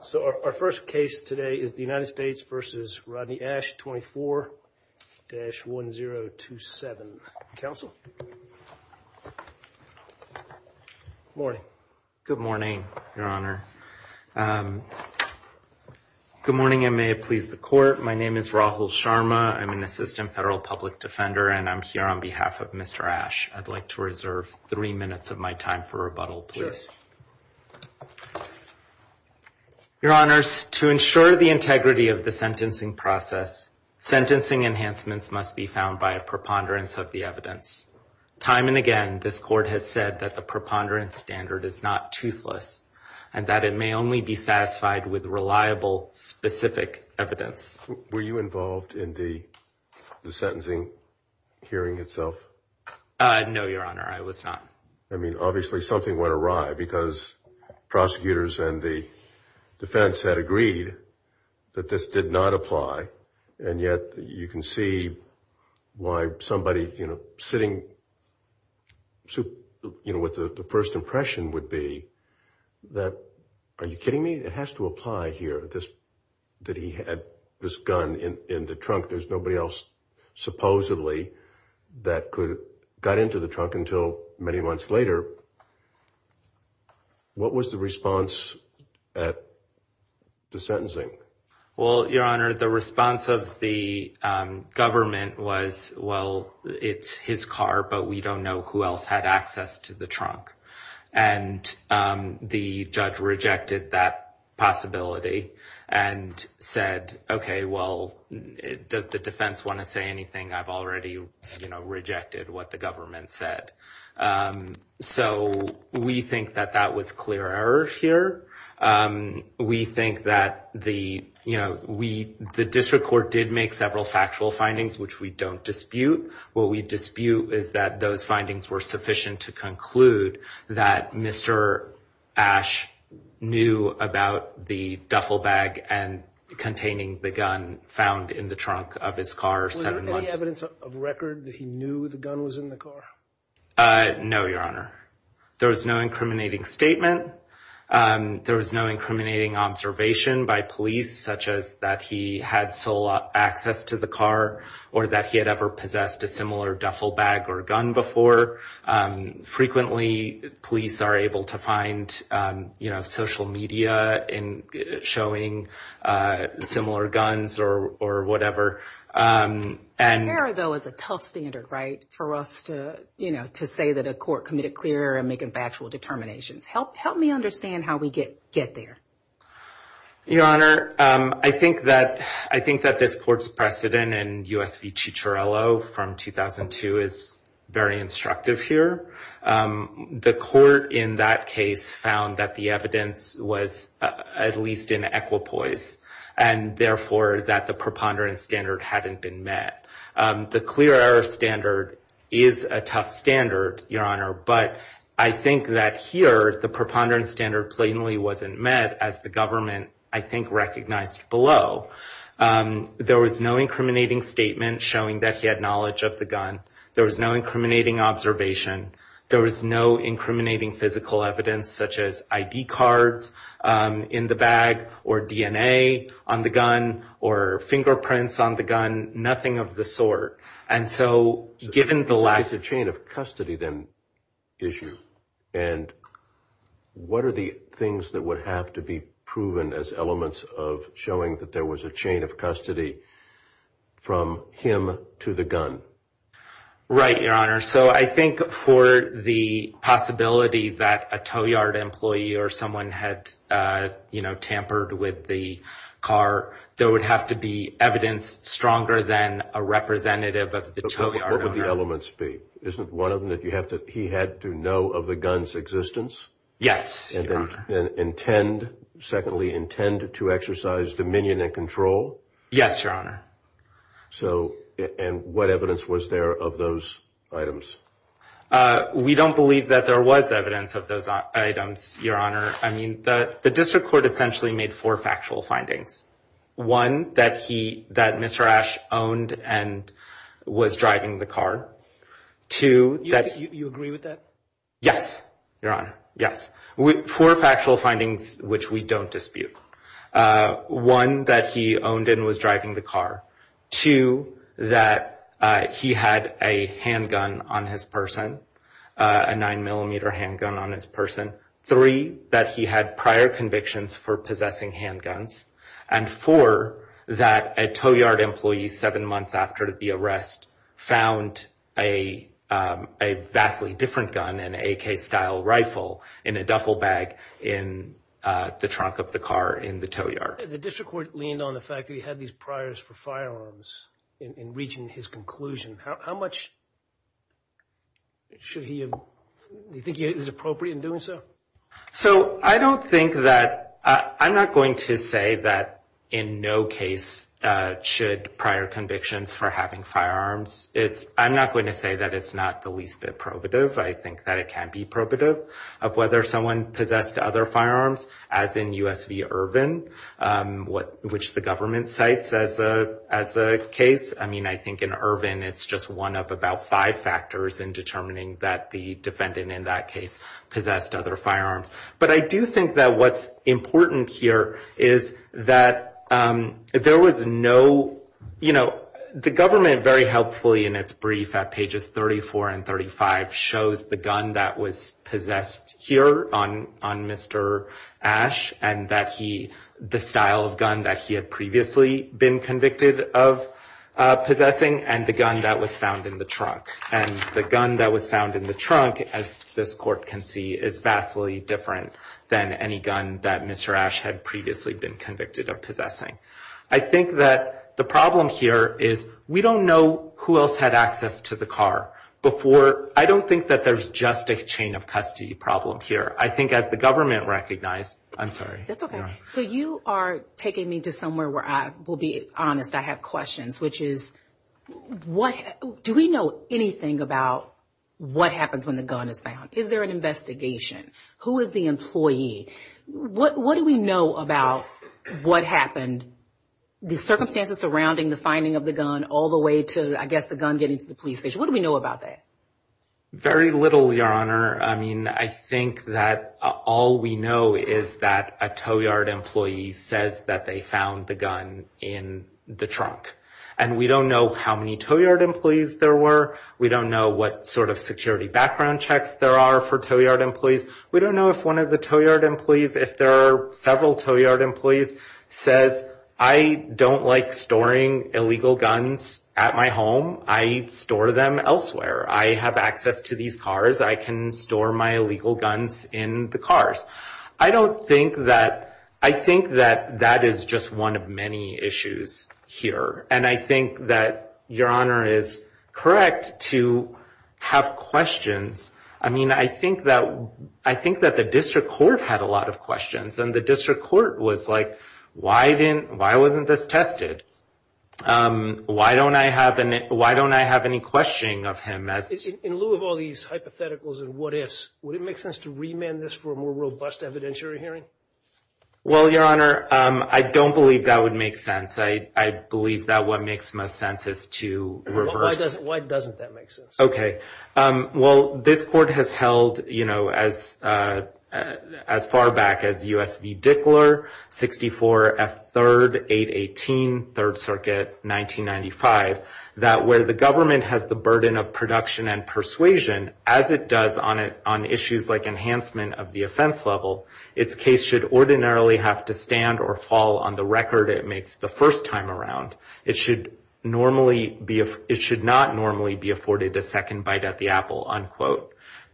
So our first case today is the United States versus Rodney Ashe 24 dash one zero two seven council Morning good morning, Your Honor Good morning, and may it please the court. My name is Rahul Sharma. I'm an assistant federal public defender, and I'm here on behalf of mr Ashe I'd like to reserve three minutes of my time for rebuttal, please Your honors to ensure the integrity of the sentencing process Sentencing enhancements must be found by a preponderance of the evidence Time and again this court has said that the preponderance standard is not toothless and that it may only be satisfied with reliable specific evidence were you involved in the sentencing hearing itself No, your honor. I was not I mean obviously something went awry because Prosecutors and the Defense had agreed that this did not apply and yet you can see Why somebody you know sitting? So you know what the first impression would be That are you kidding me? It has to apply here this that he had this gun in in the trunk. There's nobody else Supposedly that could got into the trunk until many months later What was the response at the sentencing well your honor the response of the Government was well. It's his car, but we don't know who else had access to the trunk and the judge rejected that possibility and Said okay. Well Does the defense want to say anything I've already you know rejected what the government said So we think that that was clear error here We think that the you know we the district court did make several factual findings Which we don't dispute what we dispute is that those findings were sufficient to conclude that mr. knew about the duffel bag and Containing the gun found in the trunk of his car seven months evidence of record that he knew the gun was in the car No, your honor. There was no incriminating statement There was no incriminating Observation by police such as that he had sole access to the car or that he had ever possessed a similar duffel bag or gun before Frequently police are able to find you know social media in showing similar guns or or whatever And there though is a tough standard right for us to you know to say that a court committed clear and make a factual Determinations help help me understand how we get get there Your honor. I think that I think that this court's precedent and US v. Chicharello from 2002 is very instructive here the court in that case found that the evidence was at least in equipoise and Therefore that the preponderance standard hadn't been met The clear error standard is a tough standard your honor But I think that here the preponderance standard plainly wasn't met as the government I think recognized below There was no incriminating statement showing that he had knowledge of the gun. There was no incriminating observation There was no incriminating physical evidence such as ID cards in the bag or DNA on the gun or Fingerprints on the gun nothing of the sort and so given the lack of chain of custody then issue and What are the things that would have to be proven as elements of showing that there was a chain of custody from him to the gun right your honor, so I think for the Possibility that a tow yard employee or someone had You know tampered with the car there would have to be evidence stronger than a representative of the tow yard What would the elements be isn't one of them that you have to he had to know of the guns existence? Yes, and then intend secondly intend to exercise dominion and control. Yes, your honor So and what evidence was there of those items? We don't believe that there was evidence of those items your honor I mean the the district court essentially made four factual findings one that he that mr. Ash owned and Was driving the car To that you agree with that. Yes, your honor. Yes with four factual findings, which we don't dispute One that he owned and was driving the car to that He had a handgun on his person a 9-millimeter handgun on his person three that he had prior convictions for possessing handguns and for that a tow yard employee seven months after the arrest found a Vastly different gun and a case style rifle in a duffel bag in The trunk of the car in the tow yard the district court leaned on the fact that he had these priors for firearms In reaching his conclusion, how much? Should he Think it is appropriate in doing so So I don't think that I'm not going to say that in no case Should prior convictions for having firearms. It's I'm not going to say that it's not the least bit probative I think that it can be probative of whether someone possessed other firearms as in US v Irvin What which the government cites as a as a case, I mean I think in Irvin It's just one of about five factors in determining that the defendant in that case possessed other firearms But I do think that what's important here is that? There was no You know the government very helpfully in its brief at pages 34 and 35 shows the gun that was possessed Here on on mr Ash and that he the style of gun that he had previously been convicted of Possessing and the gun that was found in the trunk and the gun that was found in the trunk as this court can see is Vastly different than any gun that mr. Ash had previously been convicted of possessing I think that the problem here is we don't know who else had access to the car Before I don't think that there's just a chain of custody problem here I think as the government recognized. I'm sorry. That's okay, so you are taking me to somewhere where I will be honest I have questions, which is What do we know anything about? What happens when the gun is found is there an investigation? Who is the employee? What what do we know about? What happened the circumstances surrounding the finding of the gun all the way to I guess the gun getting to the police station? What do we know about that? Very little your honor I mean I think that all we know is that a tow yard employee says that they found the gun in The trunk and we don't know how many tow yard employees there were we don't know what sort of security background checks There are for tow yard employees we don't know if one of the tow yard employees if there are several tow yard employees says I Don't like storing illegal guns at my home. I store them elsewhere I have access to these cars. I can store my illegal guns in the cars I don't think that I think that that is just one of many issues Here and I think that your honor is correct to have questions I mean I think that I think that the district court had a lot of questions and the district court was like Why didn't why wasn't this tested? Why don't I have an it why don't I have any questioning of him as in lieu of all these Hypotheticals and what-ifs would it make sense to remand this for a more robust evidentiary hearing? Well, your honor. I don't believe that would make sense. I I believe that what makes most sense is to Why doesn't that make sense? Okay well, this court has held, you know as As far back as US v. Dickler 64 F 3rd 818 3rd Circuit 1995 that where the government has the burden of production and persuasion as it does on it on issues like Enhancement of the offense level its case should ordinarily have to stand or fall on the record It makes the first time around it should normally be if it should not normally be afforded a second bite at the apple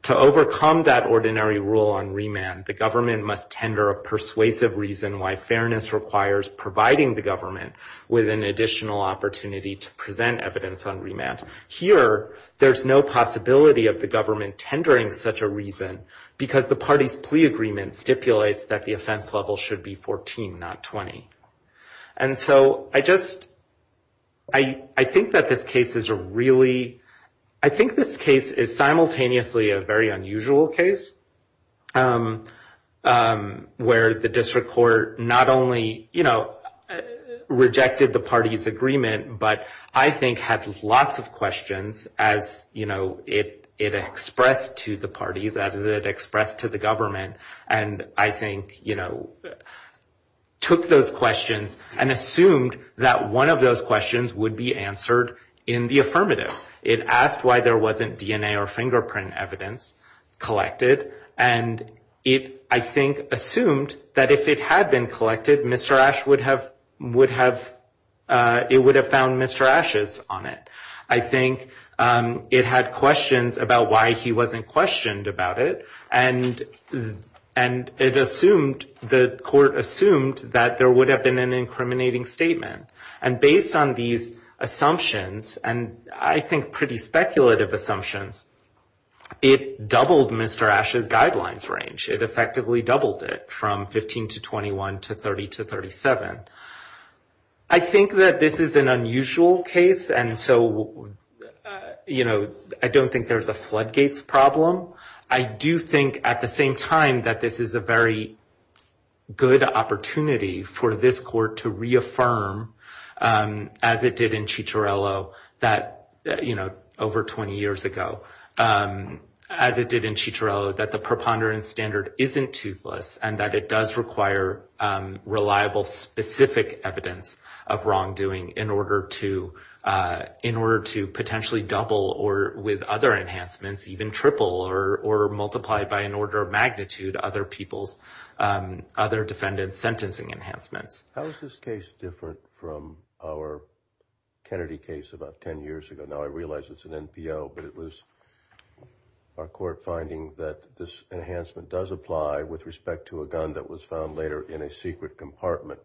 To overcome that ordinary rule on remand the government must tender a persuasive reason why fairness requires Providing the government with an additional opportunity to present evidence on remand here There's no possibility of the government tendering such a reason because the party's plea agreement stipulates that the offense level should be 14 not 20 and so I just I Think that this case is a really I think this case is simultaneously a very unusual case Where the district court not only, you know Rejected the party's agreement, but I think had lots of questions as you know It it expressed to the parties as it expressed to the government and I think you know Took those questions and assumed that one of those questions would be answered in the affirmative It asked why there wasn't DNA or fingerprint evidence Collected and it I think assumed that if it had been collected. Mr. Ashwood have would have It would have found. Mr. Ashes on it. I think it had questions about why he wasn't questioned about it and And it assumed the court assumed that there would have been an incriminating statement and based on these Assumptions and I think pretty speculative assumptions It doubled. Mr. Ash's guidelines range. It effectively doubled it from 15 to 21 to 30 to 37. I Think that this is an unusual case. And so You know, I don't think there's a floodgates problem I do think at the same time that this is a very Good opportunity for this court to reaffirm As it did in Chicharello that you know over 20 years ago As it did in Chicharello that the preponderance standard isn't toothless and that it does require reliable specific evidence of wrongdoing in order to In order to potentially double or with other enhancements even triple or multiply by an order of magnitude other people's other defendants sentencing enhancements, how is this case different from our Kennedy case about 10 years ago now, I realize it's an NPO but it was Our court finding that this enhancement does apply with respect to a gun that was found later in a secret compartment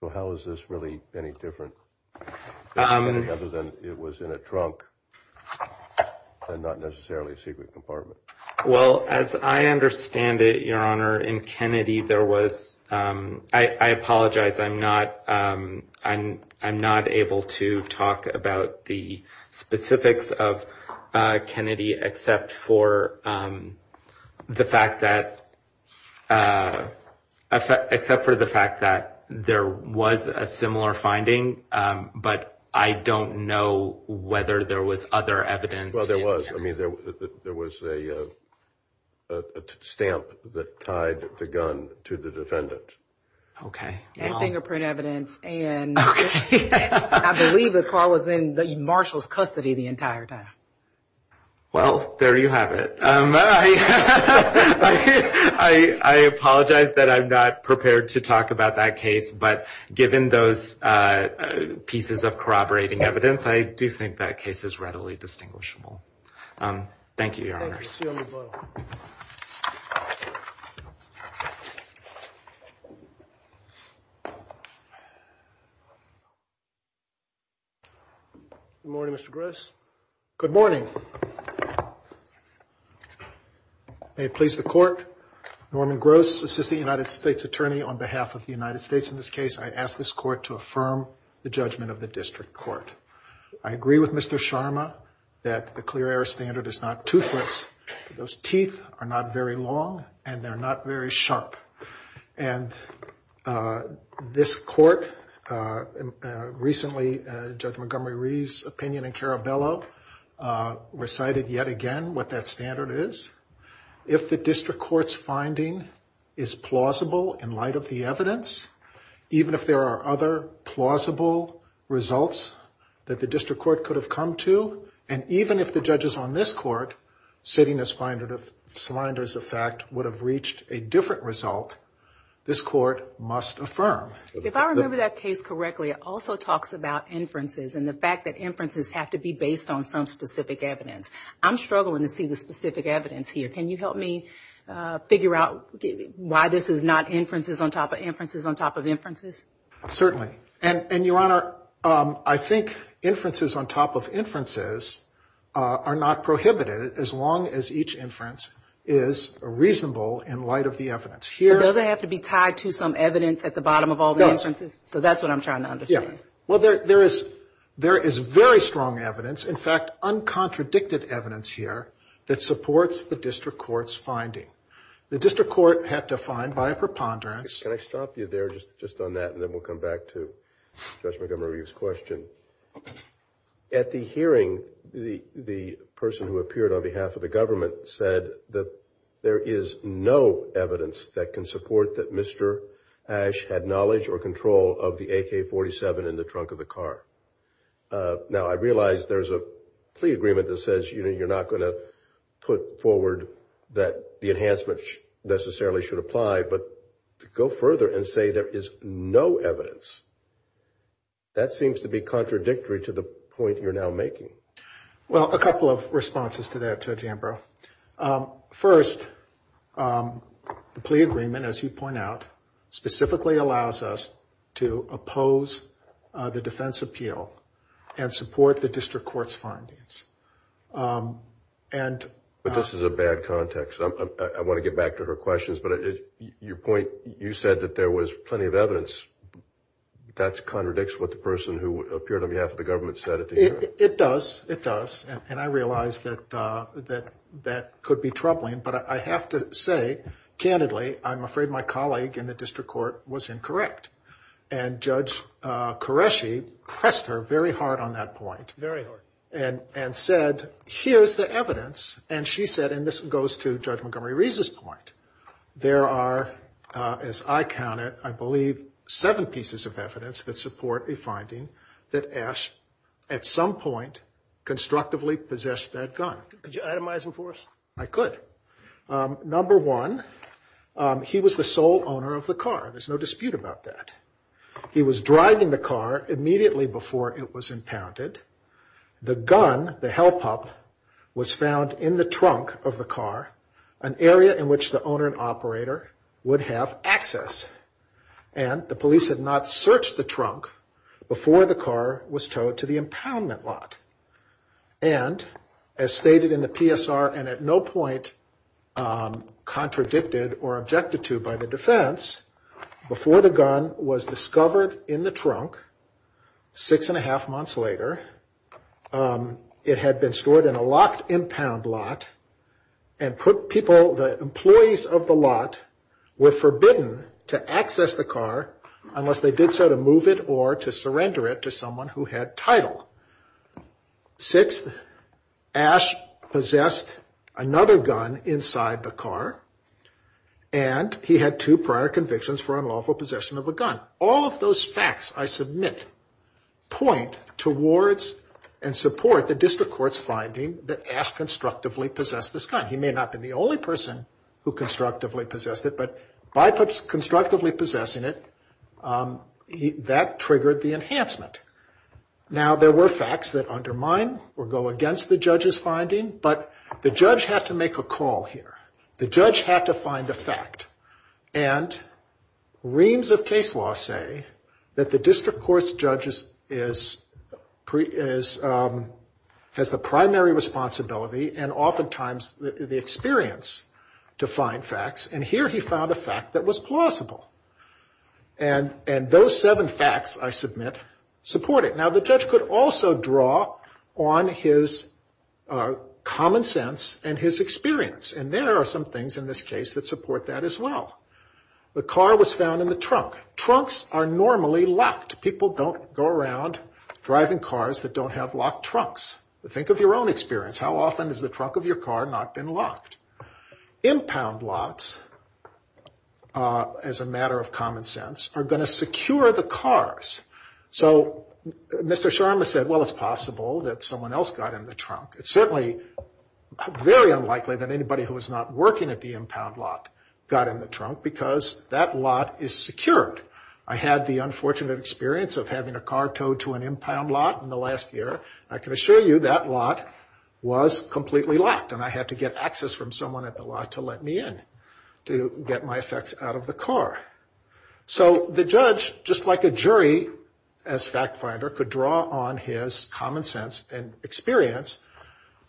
So, how is this really any different? Other than it was in a trunk And not necessarily a secret compartment. Well as I understand it your honor in Kennedy there was I apologize, I'm not I'm I'm not able to talk about the specifics of Kennedy except for the fact that I Except for the fact that there was a similar finding But I don't know whether there was other evidence. Well, there was I mean there there was a Stamp that tied the gun to the defendant. Okay I believe the call was in the marshal's custody the entire time. Well, there you have it. I Apologize that I'm not prepared to talk about that case, but given those Pieces of corroborating evidence. I do think that case is readily distinguishable Thank you Morning, mr. Grace. Good morning I Please the court Norman gross assistant United States attorney on behalf of the United States in this case I ask this court to affirm the judgment of the district court. I agree with mr. Sharma that the clear air standard is not toothless those teeth are not very long and they're not very sharp and This court Recently judge Montgomery Reeves opinion and Caraballo Recited yet again what that standard is if the district courts finding is plausible in light of the evidence Even if there are other plausible Results that the district court could have come to and even if the judges on this court Sitting as finder of sliders effect would have reached a different result This court must affirm if I remember that case correctly Also talks about inferences and the fact that inferences have to be based on some specific evidence I'm struggling to see the specific evidence here. Can you help me? Figure out why this is not inferences on top of inferences on top of inferences Certainly and and your honor. I think inferences on top of inferences are not prohibited as long as each inference is Reasonable in light of the evidence here doesn't have to be tied to some evidence at the bottom of all those So that's what I'm trying to understand. Yeah. Well, there there is there is very strong evidence. In fact Uncontradicted evidence here that supports the district courts finding the district court had to find by a preponderance Can I stop you there just just on that and then we'll come back to Judge Montgomery's question at the hearing the the person who appeared on behalf of the government said that there is no Evidence that can support that. Mr. Ash had knowledge or control of the ak-47 in the trunk of the car Now I realize there's a plea agreement that says, you know, you're not going to put forward that the enhancements Necessarily should apply but to go further and say there is no evidence That seems to be contradictory to the point. You're now making well a couple of responses to that judge Ambrose first The plea agreement as you point out specifically allows us to oppose the defense appeal and support the district courts findings and But this is a bad context. I want to get back to her questions, but it's your point You said that there was plenty of evidence That's contradicts what the person who appeared on behalf of the government said it does it does and I realized that That that could be troubling but I have to say Candidly, I'm afraid my colleague in the district court was incorrect and judge Qureshi pressed her very hard on that point Very hard and and said here's the evidence and she said and this goes to judge Montgomery Reese's point there are As I counted I believe seven pieces of evidence that support a finding that ash at some point Constructively possessed that gun I could number one He was the sole owner of the car. There's no dispute about that He was driving the car immediately before it was impounded The gun the help up was found in the trunk of the car an area in which the owner and operator would have access and The police had not searched the trunk before the car was towed to the impoundment lot And as stated in the PSR and at no point Contradicted or objected to by the defense before the gun was discovered in the trunk six and a half months later it had been stored in a locked impound lot and Put people the employees of the lot Were forbidden to access the car unless they did so to move it or to surrender it to someone who had title Six ash possessed another gun inside the car and He had two prior convictions for unlawful possession of a gun all of those facts. I submit Point towards and support the district courts finding that ash constructively possessed this gun He may not have been the only person who constructively possessed it, but by puts constructively possessing it That triggered the enhancement Now there were facts that undermine or go against the judge's finding but the judge had to make a call here the judge had to find a fact and Reams of case law say that the district courts judges is pre is has the primary responsibility and oftentimes the experience to find facts and here he found a fact that was plausible and And those seven facts I submit support it now the judge could also draw on his Common sense and his experience and there are some things in this case that support that as well The car was found in the trunk trunks are normally locked people don't go around Driving cars that don't have locked trunks. Think of your own experience. How often is the trunk of your car not been locked? impound lots As a matter of common sense are going to secure the cars, so Mr. Sharma said well, it's possible that someone else got in the trunk. It's certainly Very unlikely that anybody who was not working at the impound lot got in the trunk because that lot is secured I had the unfortunate experience of having a car towed to an impound lot in the last year I can assure you that lot was completely locked and I had to get access from someone at the lot to let me in To get my effects out of the car So the judge just like a jury as fact finder could draw on his common sense and experience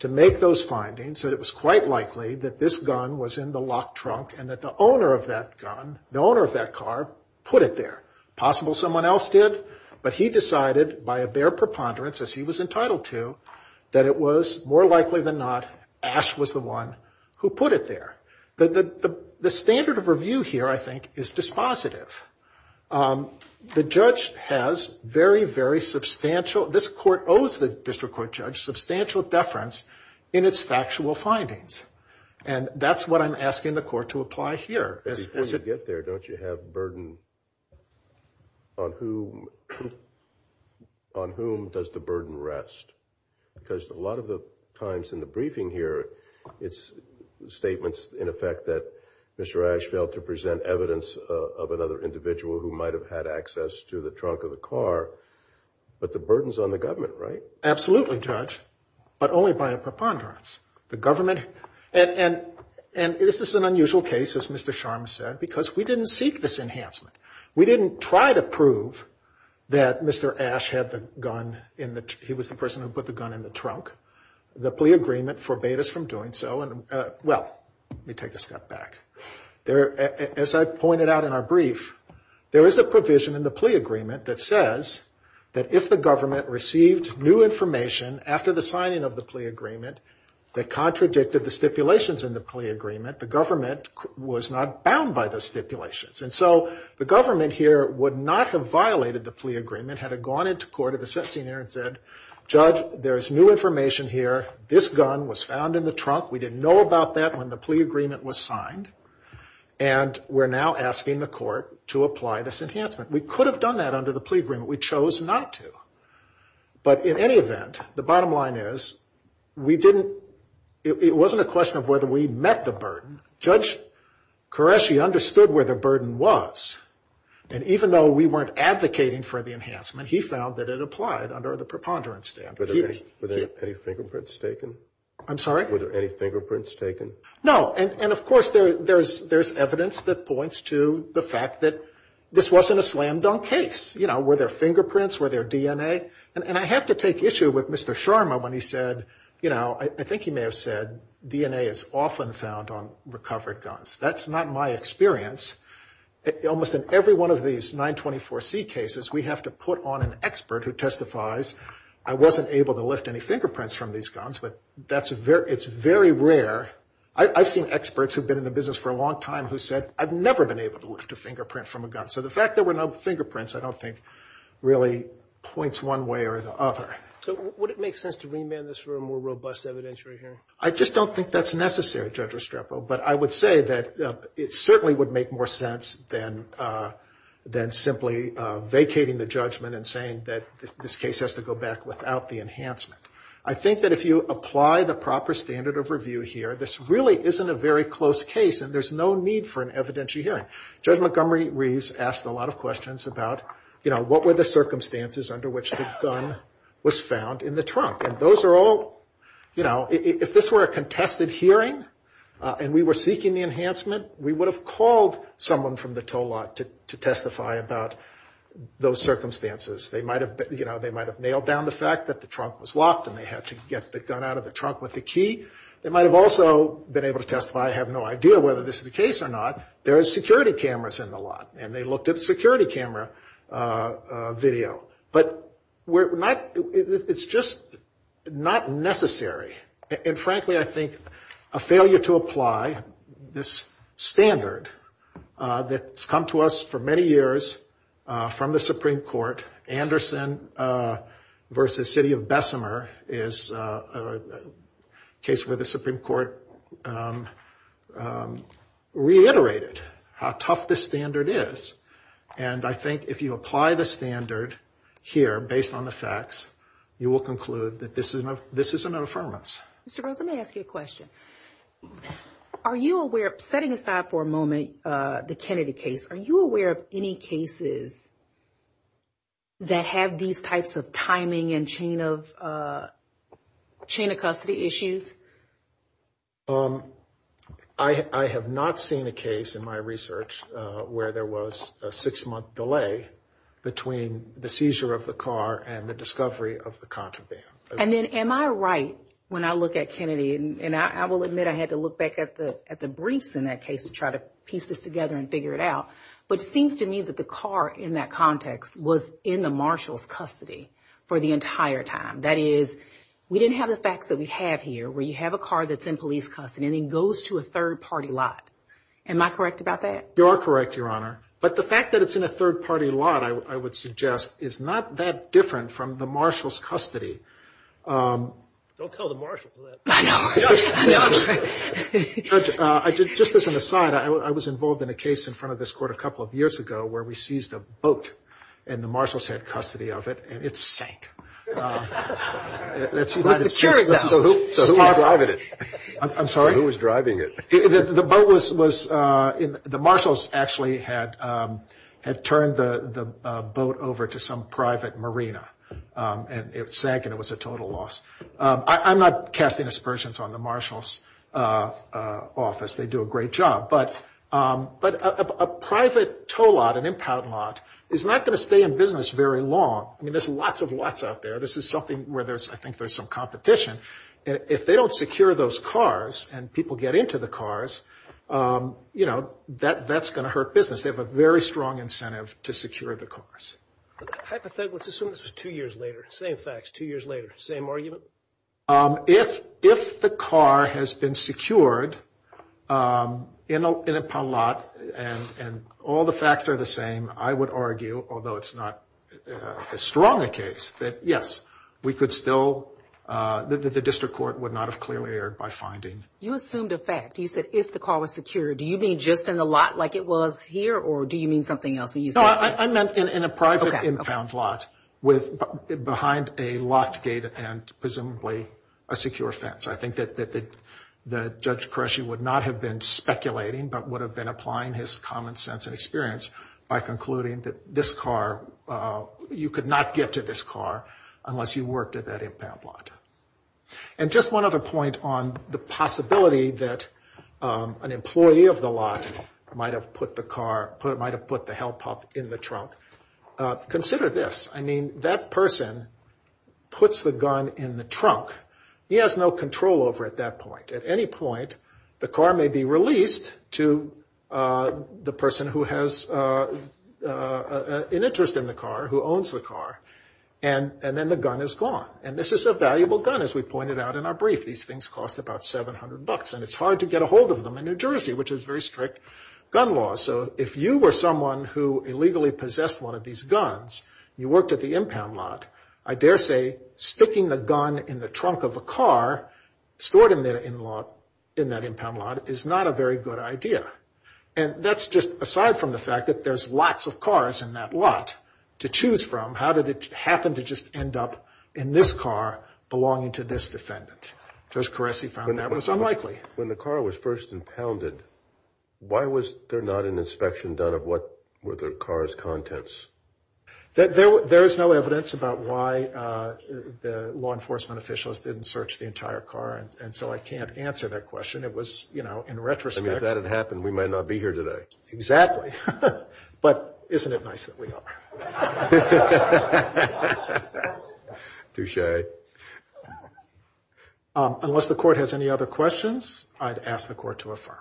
To make those findings that it was quite likely that this gun was in the locked trunk and that the owner of that gun The owner of that car put it there possible someone else did but he decided by a bare preponderance as he was entitled to That it was more likely than not Ash was the one who put it there, but the the standard of review here, I think is dispositive The judge has very very substantial this court owes the district court judge substantial deference in its factual Findings and that's what I'm asking the court to apply here as it get there. Don't you have burden? on whom On whom does the burden rest? Because a lot of the times in the briefing here its Statements in effect that mr. Ash failed to present evidence of another individual who might have had access to the trunk of the car But the burdens on the government, right? Absolutely judge, but only by a preponderance the government and and and this is an unusual case As mr. Sharma said because we didn't seek this enhancement. We didn't try to prove that Mr. Ash had the gun in that he was the person who put the gun in the trunk The plea agreement forbade us from doing so and well, let me take a step back There as I pointed out in our brief There is a provision in the plea agreement that says that if the government received new information after the signing of the plea agreement That contradicted the stipulations in the plea agreement. The government was not bound by the stipulations And so the government here would not have violated the plea agreement had it gone into court at the sentencing there and said Judge there's new information here. This gun was found in the trunk. We didn't know about that when the plea agreement was signed and We're now asking the court to apply this enhancement. We could have done that under the plea agreement. We chose not to But in any event the bottom line is we didn't it wasn't a question of whether we met the burden judge Qureshi understood where the burden was And even though we weren't advocating for the enhancement. He found that it applied under the preponderance dam I'm sorry fingerprints taken. No, and and of course there there's there's evidence that points to the fact that This wasn't a slam-dunk case, you know where their fingerprints were their DNA and I have to take issue with mr Sharma when he said, you know, I think he may have said DNA is often found on recovered guns. That's not my experience Almost in every one of these 924 C cases. We have to put on an expert who testifies I wasn't able to lift any fingerprints from these guns, but that's a very it's very rare I've seen experts who've been in the business for a long time who said I've never been able to lift a fingerprint from a gun So the fact there were no fingerprints, I don't think Really points one way or the other Would it make sense to remand this for a more robust evidentiary hearing? I just don't think that's necessary judge Restrepo, but I would say that it certainly would make more sense than Then simply vacating the judgment and saying that this case has to go back without the enhancement I think that if you apply the proper standard of review here This really isn't a very close case and there's no need for an evidentiary hearing judge Montgomery Reeves asked a lot of questions about you know What were the circumstances under which the gun was found in the trunk? And those are all you know, if this were a contested hearing and we were seeking the enhancement We would have called someone from the tow lot to testify about Those circumstances they might have you know They might have nailed down the fact that the trunk was locked and they had to get the gun out of the trunk with the Key, they might have also been able to testify. I have no idea whether this is the case or not There is security cameras in the lot and they looked at the security camera video, but we're not it's just Not necessary and frankly, I think a failure to apply this standard That's come to us for many years from the Supreme Court Anderson versus City of Bessemer is Case where the Supreme Court Reiterated how tough the standard is and I think if you apply the standard Here based on the facts you will conclude that this is enough. This is an affirmance. Mr. Rose. Let me ask you a question Are you aware of setting aside for a moment the Kennedy case? Are you aware of any cases that? Have these types of timing and chain of chain of custody issues I Have not seen a case in my research where there was a six-month delay between the seizure of the car and the discovery of the contraband and then am I right when I look at Kennedy and I will Admit I had to look back at the at the briefs in that case to try to piece this together and figure it out But seems to me that the car in that context was in the marshals custody for the entire time We didn't have the facts that we have here where you have a car that's in police custody It goes to a third-party lot. Am I correct about that? You are correct, Your Honor But the fact that it's in a third-party lot, I would suggest is not that different from the marshals custody Just as an aside I was involved in a case in front of this court a couple of years ago where we seized a boat and the marshals had custody of it and it's Securing it I'm sorry who was driving it the boat was was in the marshals actually had Had turned the the boat over to some private marina And it sank and it was a total loss I'm not casting aspersions on the marshals office they do a great job, but But a private tow lot an impound lot is not going to stay in business very long I mean, there's lots of lots out there. This is something where there's I think there's some competition And if they don't secure those cars and people get into the cars You know that that's gonna hurt business. They have a very strong incentive to secure the cars Two years later same facts two years later same argument if if the car has been secured In a lot and and all the facts are the same. I would argue although it's not Strong a case that yes, we could still That the district court would not have clearly aired by finding you assumed a fact you said if the car was secure Do you mean just in a lot like it was here, or do you mean something else? No, I meant in a private impound lot with behind a locked gate and presumably a secure fence I think that that the judge Koreshi would not have been speculating But would have been applying his common sense and experience by concluding that this car You could not get to this car unless you worked at that impound lot and just one other point on the possibility that An employee of the lot might have put the car put it might have put the help up in the trunk Consider this I mean that person Puts the gun in the trunk. He has no control over at that point at any point the car may be released to the person who has An interest in the car who owns the car and And then the gun is gone And this is a valuable gun as we pointed out in our brief these things cost about 700 bucks and it's hard to get a hold of them in New Jersey, which is very strict gun law So if you were someone who illegally possessed one of these guns you worked at the impound lot I dare say Sticking the gun in the trunk of a car Stored in there in law in that impound lot is not a very good idea And that's just aside from the fact that there's lots of cars in that lot to choose from how did it happen to just end? Up in this car belonging to this defendant just caress. He found that was unlikely when the car was first impounded Why was there not an inspection done of what were their cars contents? that there was there is no evidence about why The law enforcement officials didn't search the entire car and so I can't answer that question It was you know in retrospect that had happened. We might not be here today exactly But isn't it nice that we are? Too shy unless the court has any other questions, I'd ask the court to affirm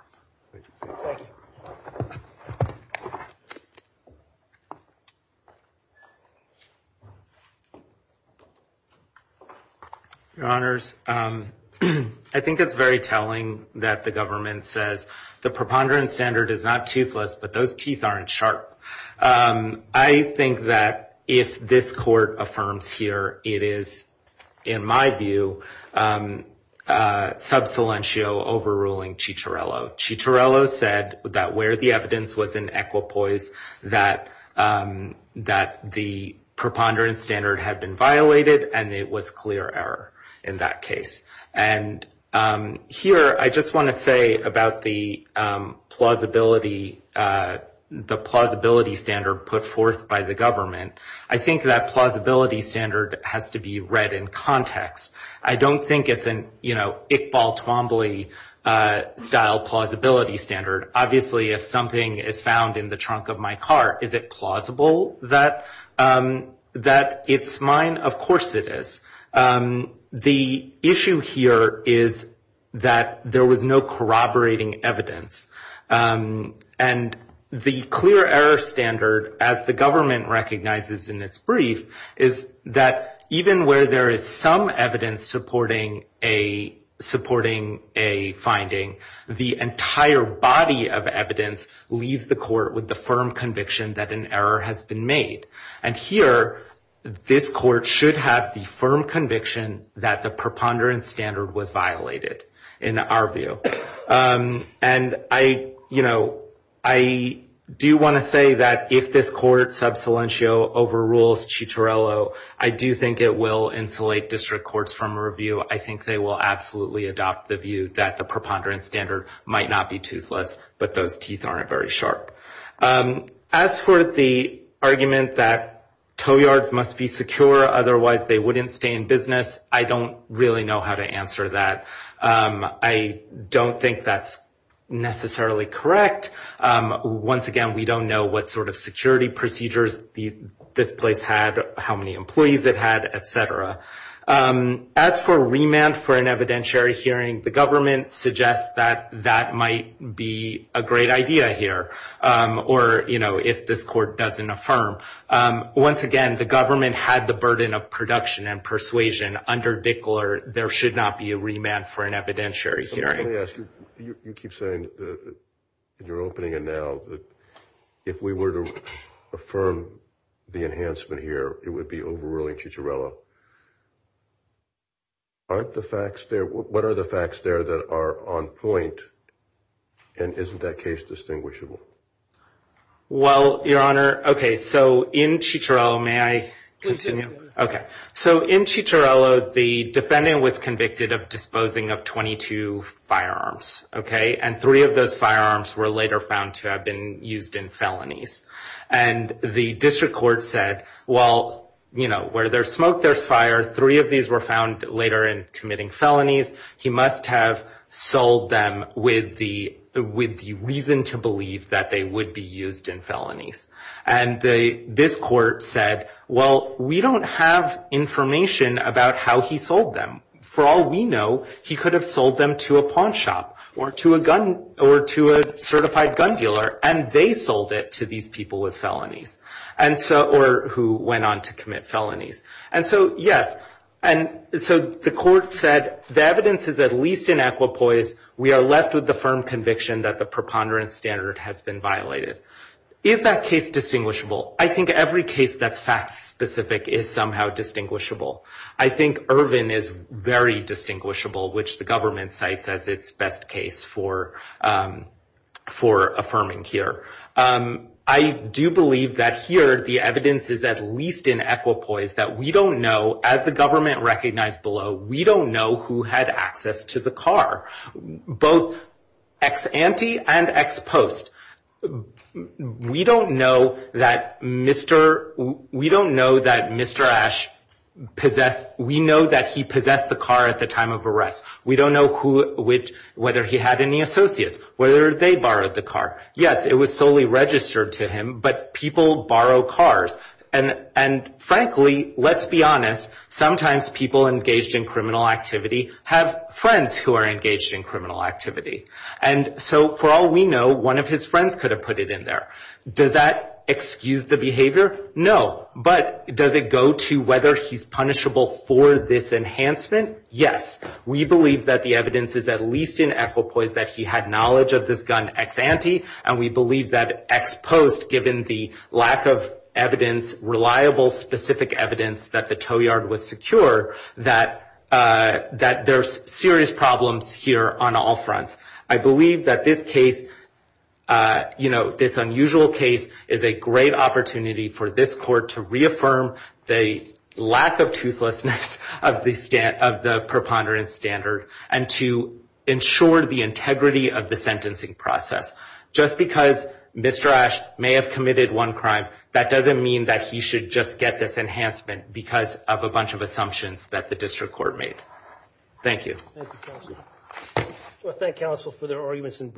I Think it's very telling that the government says the preponderance standard is not toothless, but those teeth aren't sharp I think that if this court affirms here it is in my view Sub Cilentio overruling Chicharro Chicharro said that where the evidence was in equipoise that that the preponderance standard had been violated and it was clear error in that case and here I just want to say about the plausibility The plausibility standard put forth by the government. I think that plausibility standard has to be read in context I don't think it's an you know, Iqbal Twombly Style plausibility standard obviously if something is found in the trunk of my car. Is it plausible that? That it's mine. Of course it is The issue here is that there was no corroborating evidence and the clear error standard as the government recognizes in its brief is that even where there is some evidence supporting a supporting a finding the entire body of evidence leaves the court with the firm conviction that an error has been made and here This court should have the firm conviction that the preponderance standard was violated in our view and I you know, I Do want to say that if this court sub silencio overrules Chitarello I do think it will insulate district courts from a review I think they will absolutely adopt the view that the preponderance standard might not be toothless, but those teeth aren't very sharp As for the argument that Toeyards must be secure. Otherwise, they wouldn't stay in business. I don't really know how to answer that I don't think that's Necessarily correct Once again, we don't know what sort of security procedures the this place had how many employees that had etc As for remand for an evidentiary hearing the government suggests that that might be a great idea here Or you know if this court doesn't affirm Once again, the government had the burden of production and persuasion under Dickler There should not be a remand for an evidentiary hearing You're opening and now that if we were to affirm the enhancement here, it would be overruling Chitarello Aren't the facts there what are the facts there that are on point and isn't that case distinguishable? Well, your honor. Okay. So in Chitarello, may I continue? Okay So in Chitarello, the defendant was convicted of disposing of 22 firearms, okay, and three of those firearms were later found to have been used in felonies and The district court said well, you know where there's smoke there's fire three of these were found later in committing felonies he must have sold them with the with the reason to believe that they would be used in felonies and This court said well, we don't have information about how he sold them for all we know he could have sold them to a pawn shop or to a gun or to A certified gun dealer and they sold it to these people with felonies and so or who went on to commit felonies And so yes And so the court said the evidence is at least in aqua poise We are left with the firm conviction that the preponderance standard has been violated Is that case distinguishable I think every case that's fact-specific is somehow distinguishable I think Irvin is very distinguishable, which the government cites as its best case for for affirming here I do believe that here the evidence is at least in aqua poise that we don't know as the government recognized below We don't know who had access to the car both ex-ante and ex-post We don't know that mr. We don't know that mr. Ash Possessed we know that he possessed the car at the time of arrest We don't know who which whether he had any associates whether they borrowed the car. Yes It was solely registered to him, but people borrow cars and and frankly, let's be honest sometimes people engaged in criminal activity have friends who are engaged in criminal activity and So for all we know one of his friends could have put it in there does that excuse the behavior? No, but does it go to whether he's punishable for this enhancement? Yes We believe that the evidence is at least in aqua poise that he had knowledge of this gun ex-ante and we believe that Ex-post given the lack of evidence Reliable specific evidence that the tow yard was secure that That there's serious problems here on all fronts, I believe that this case you know this unusual case is a great opportunity for this court to reaffirm the lack of toothlessness of the stand of the preponderance standard and to Ensure the integrity of the sentencing process just because mr. Ash may have committed one crime that doesn't mean that he should just get this enhancement Because of a bunch of assumptions that the district court made. Thank you Thank counsel for their arguments in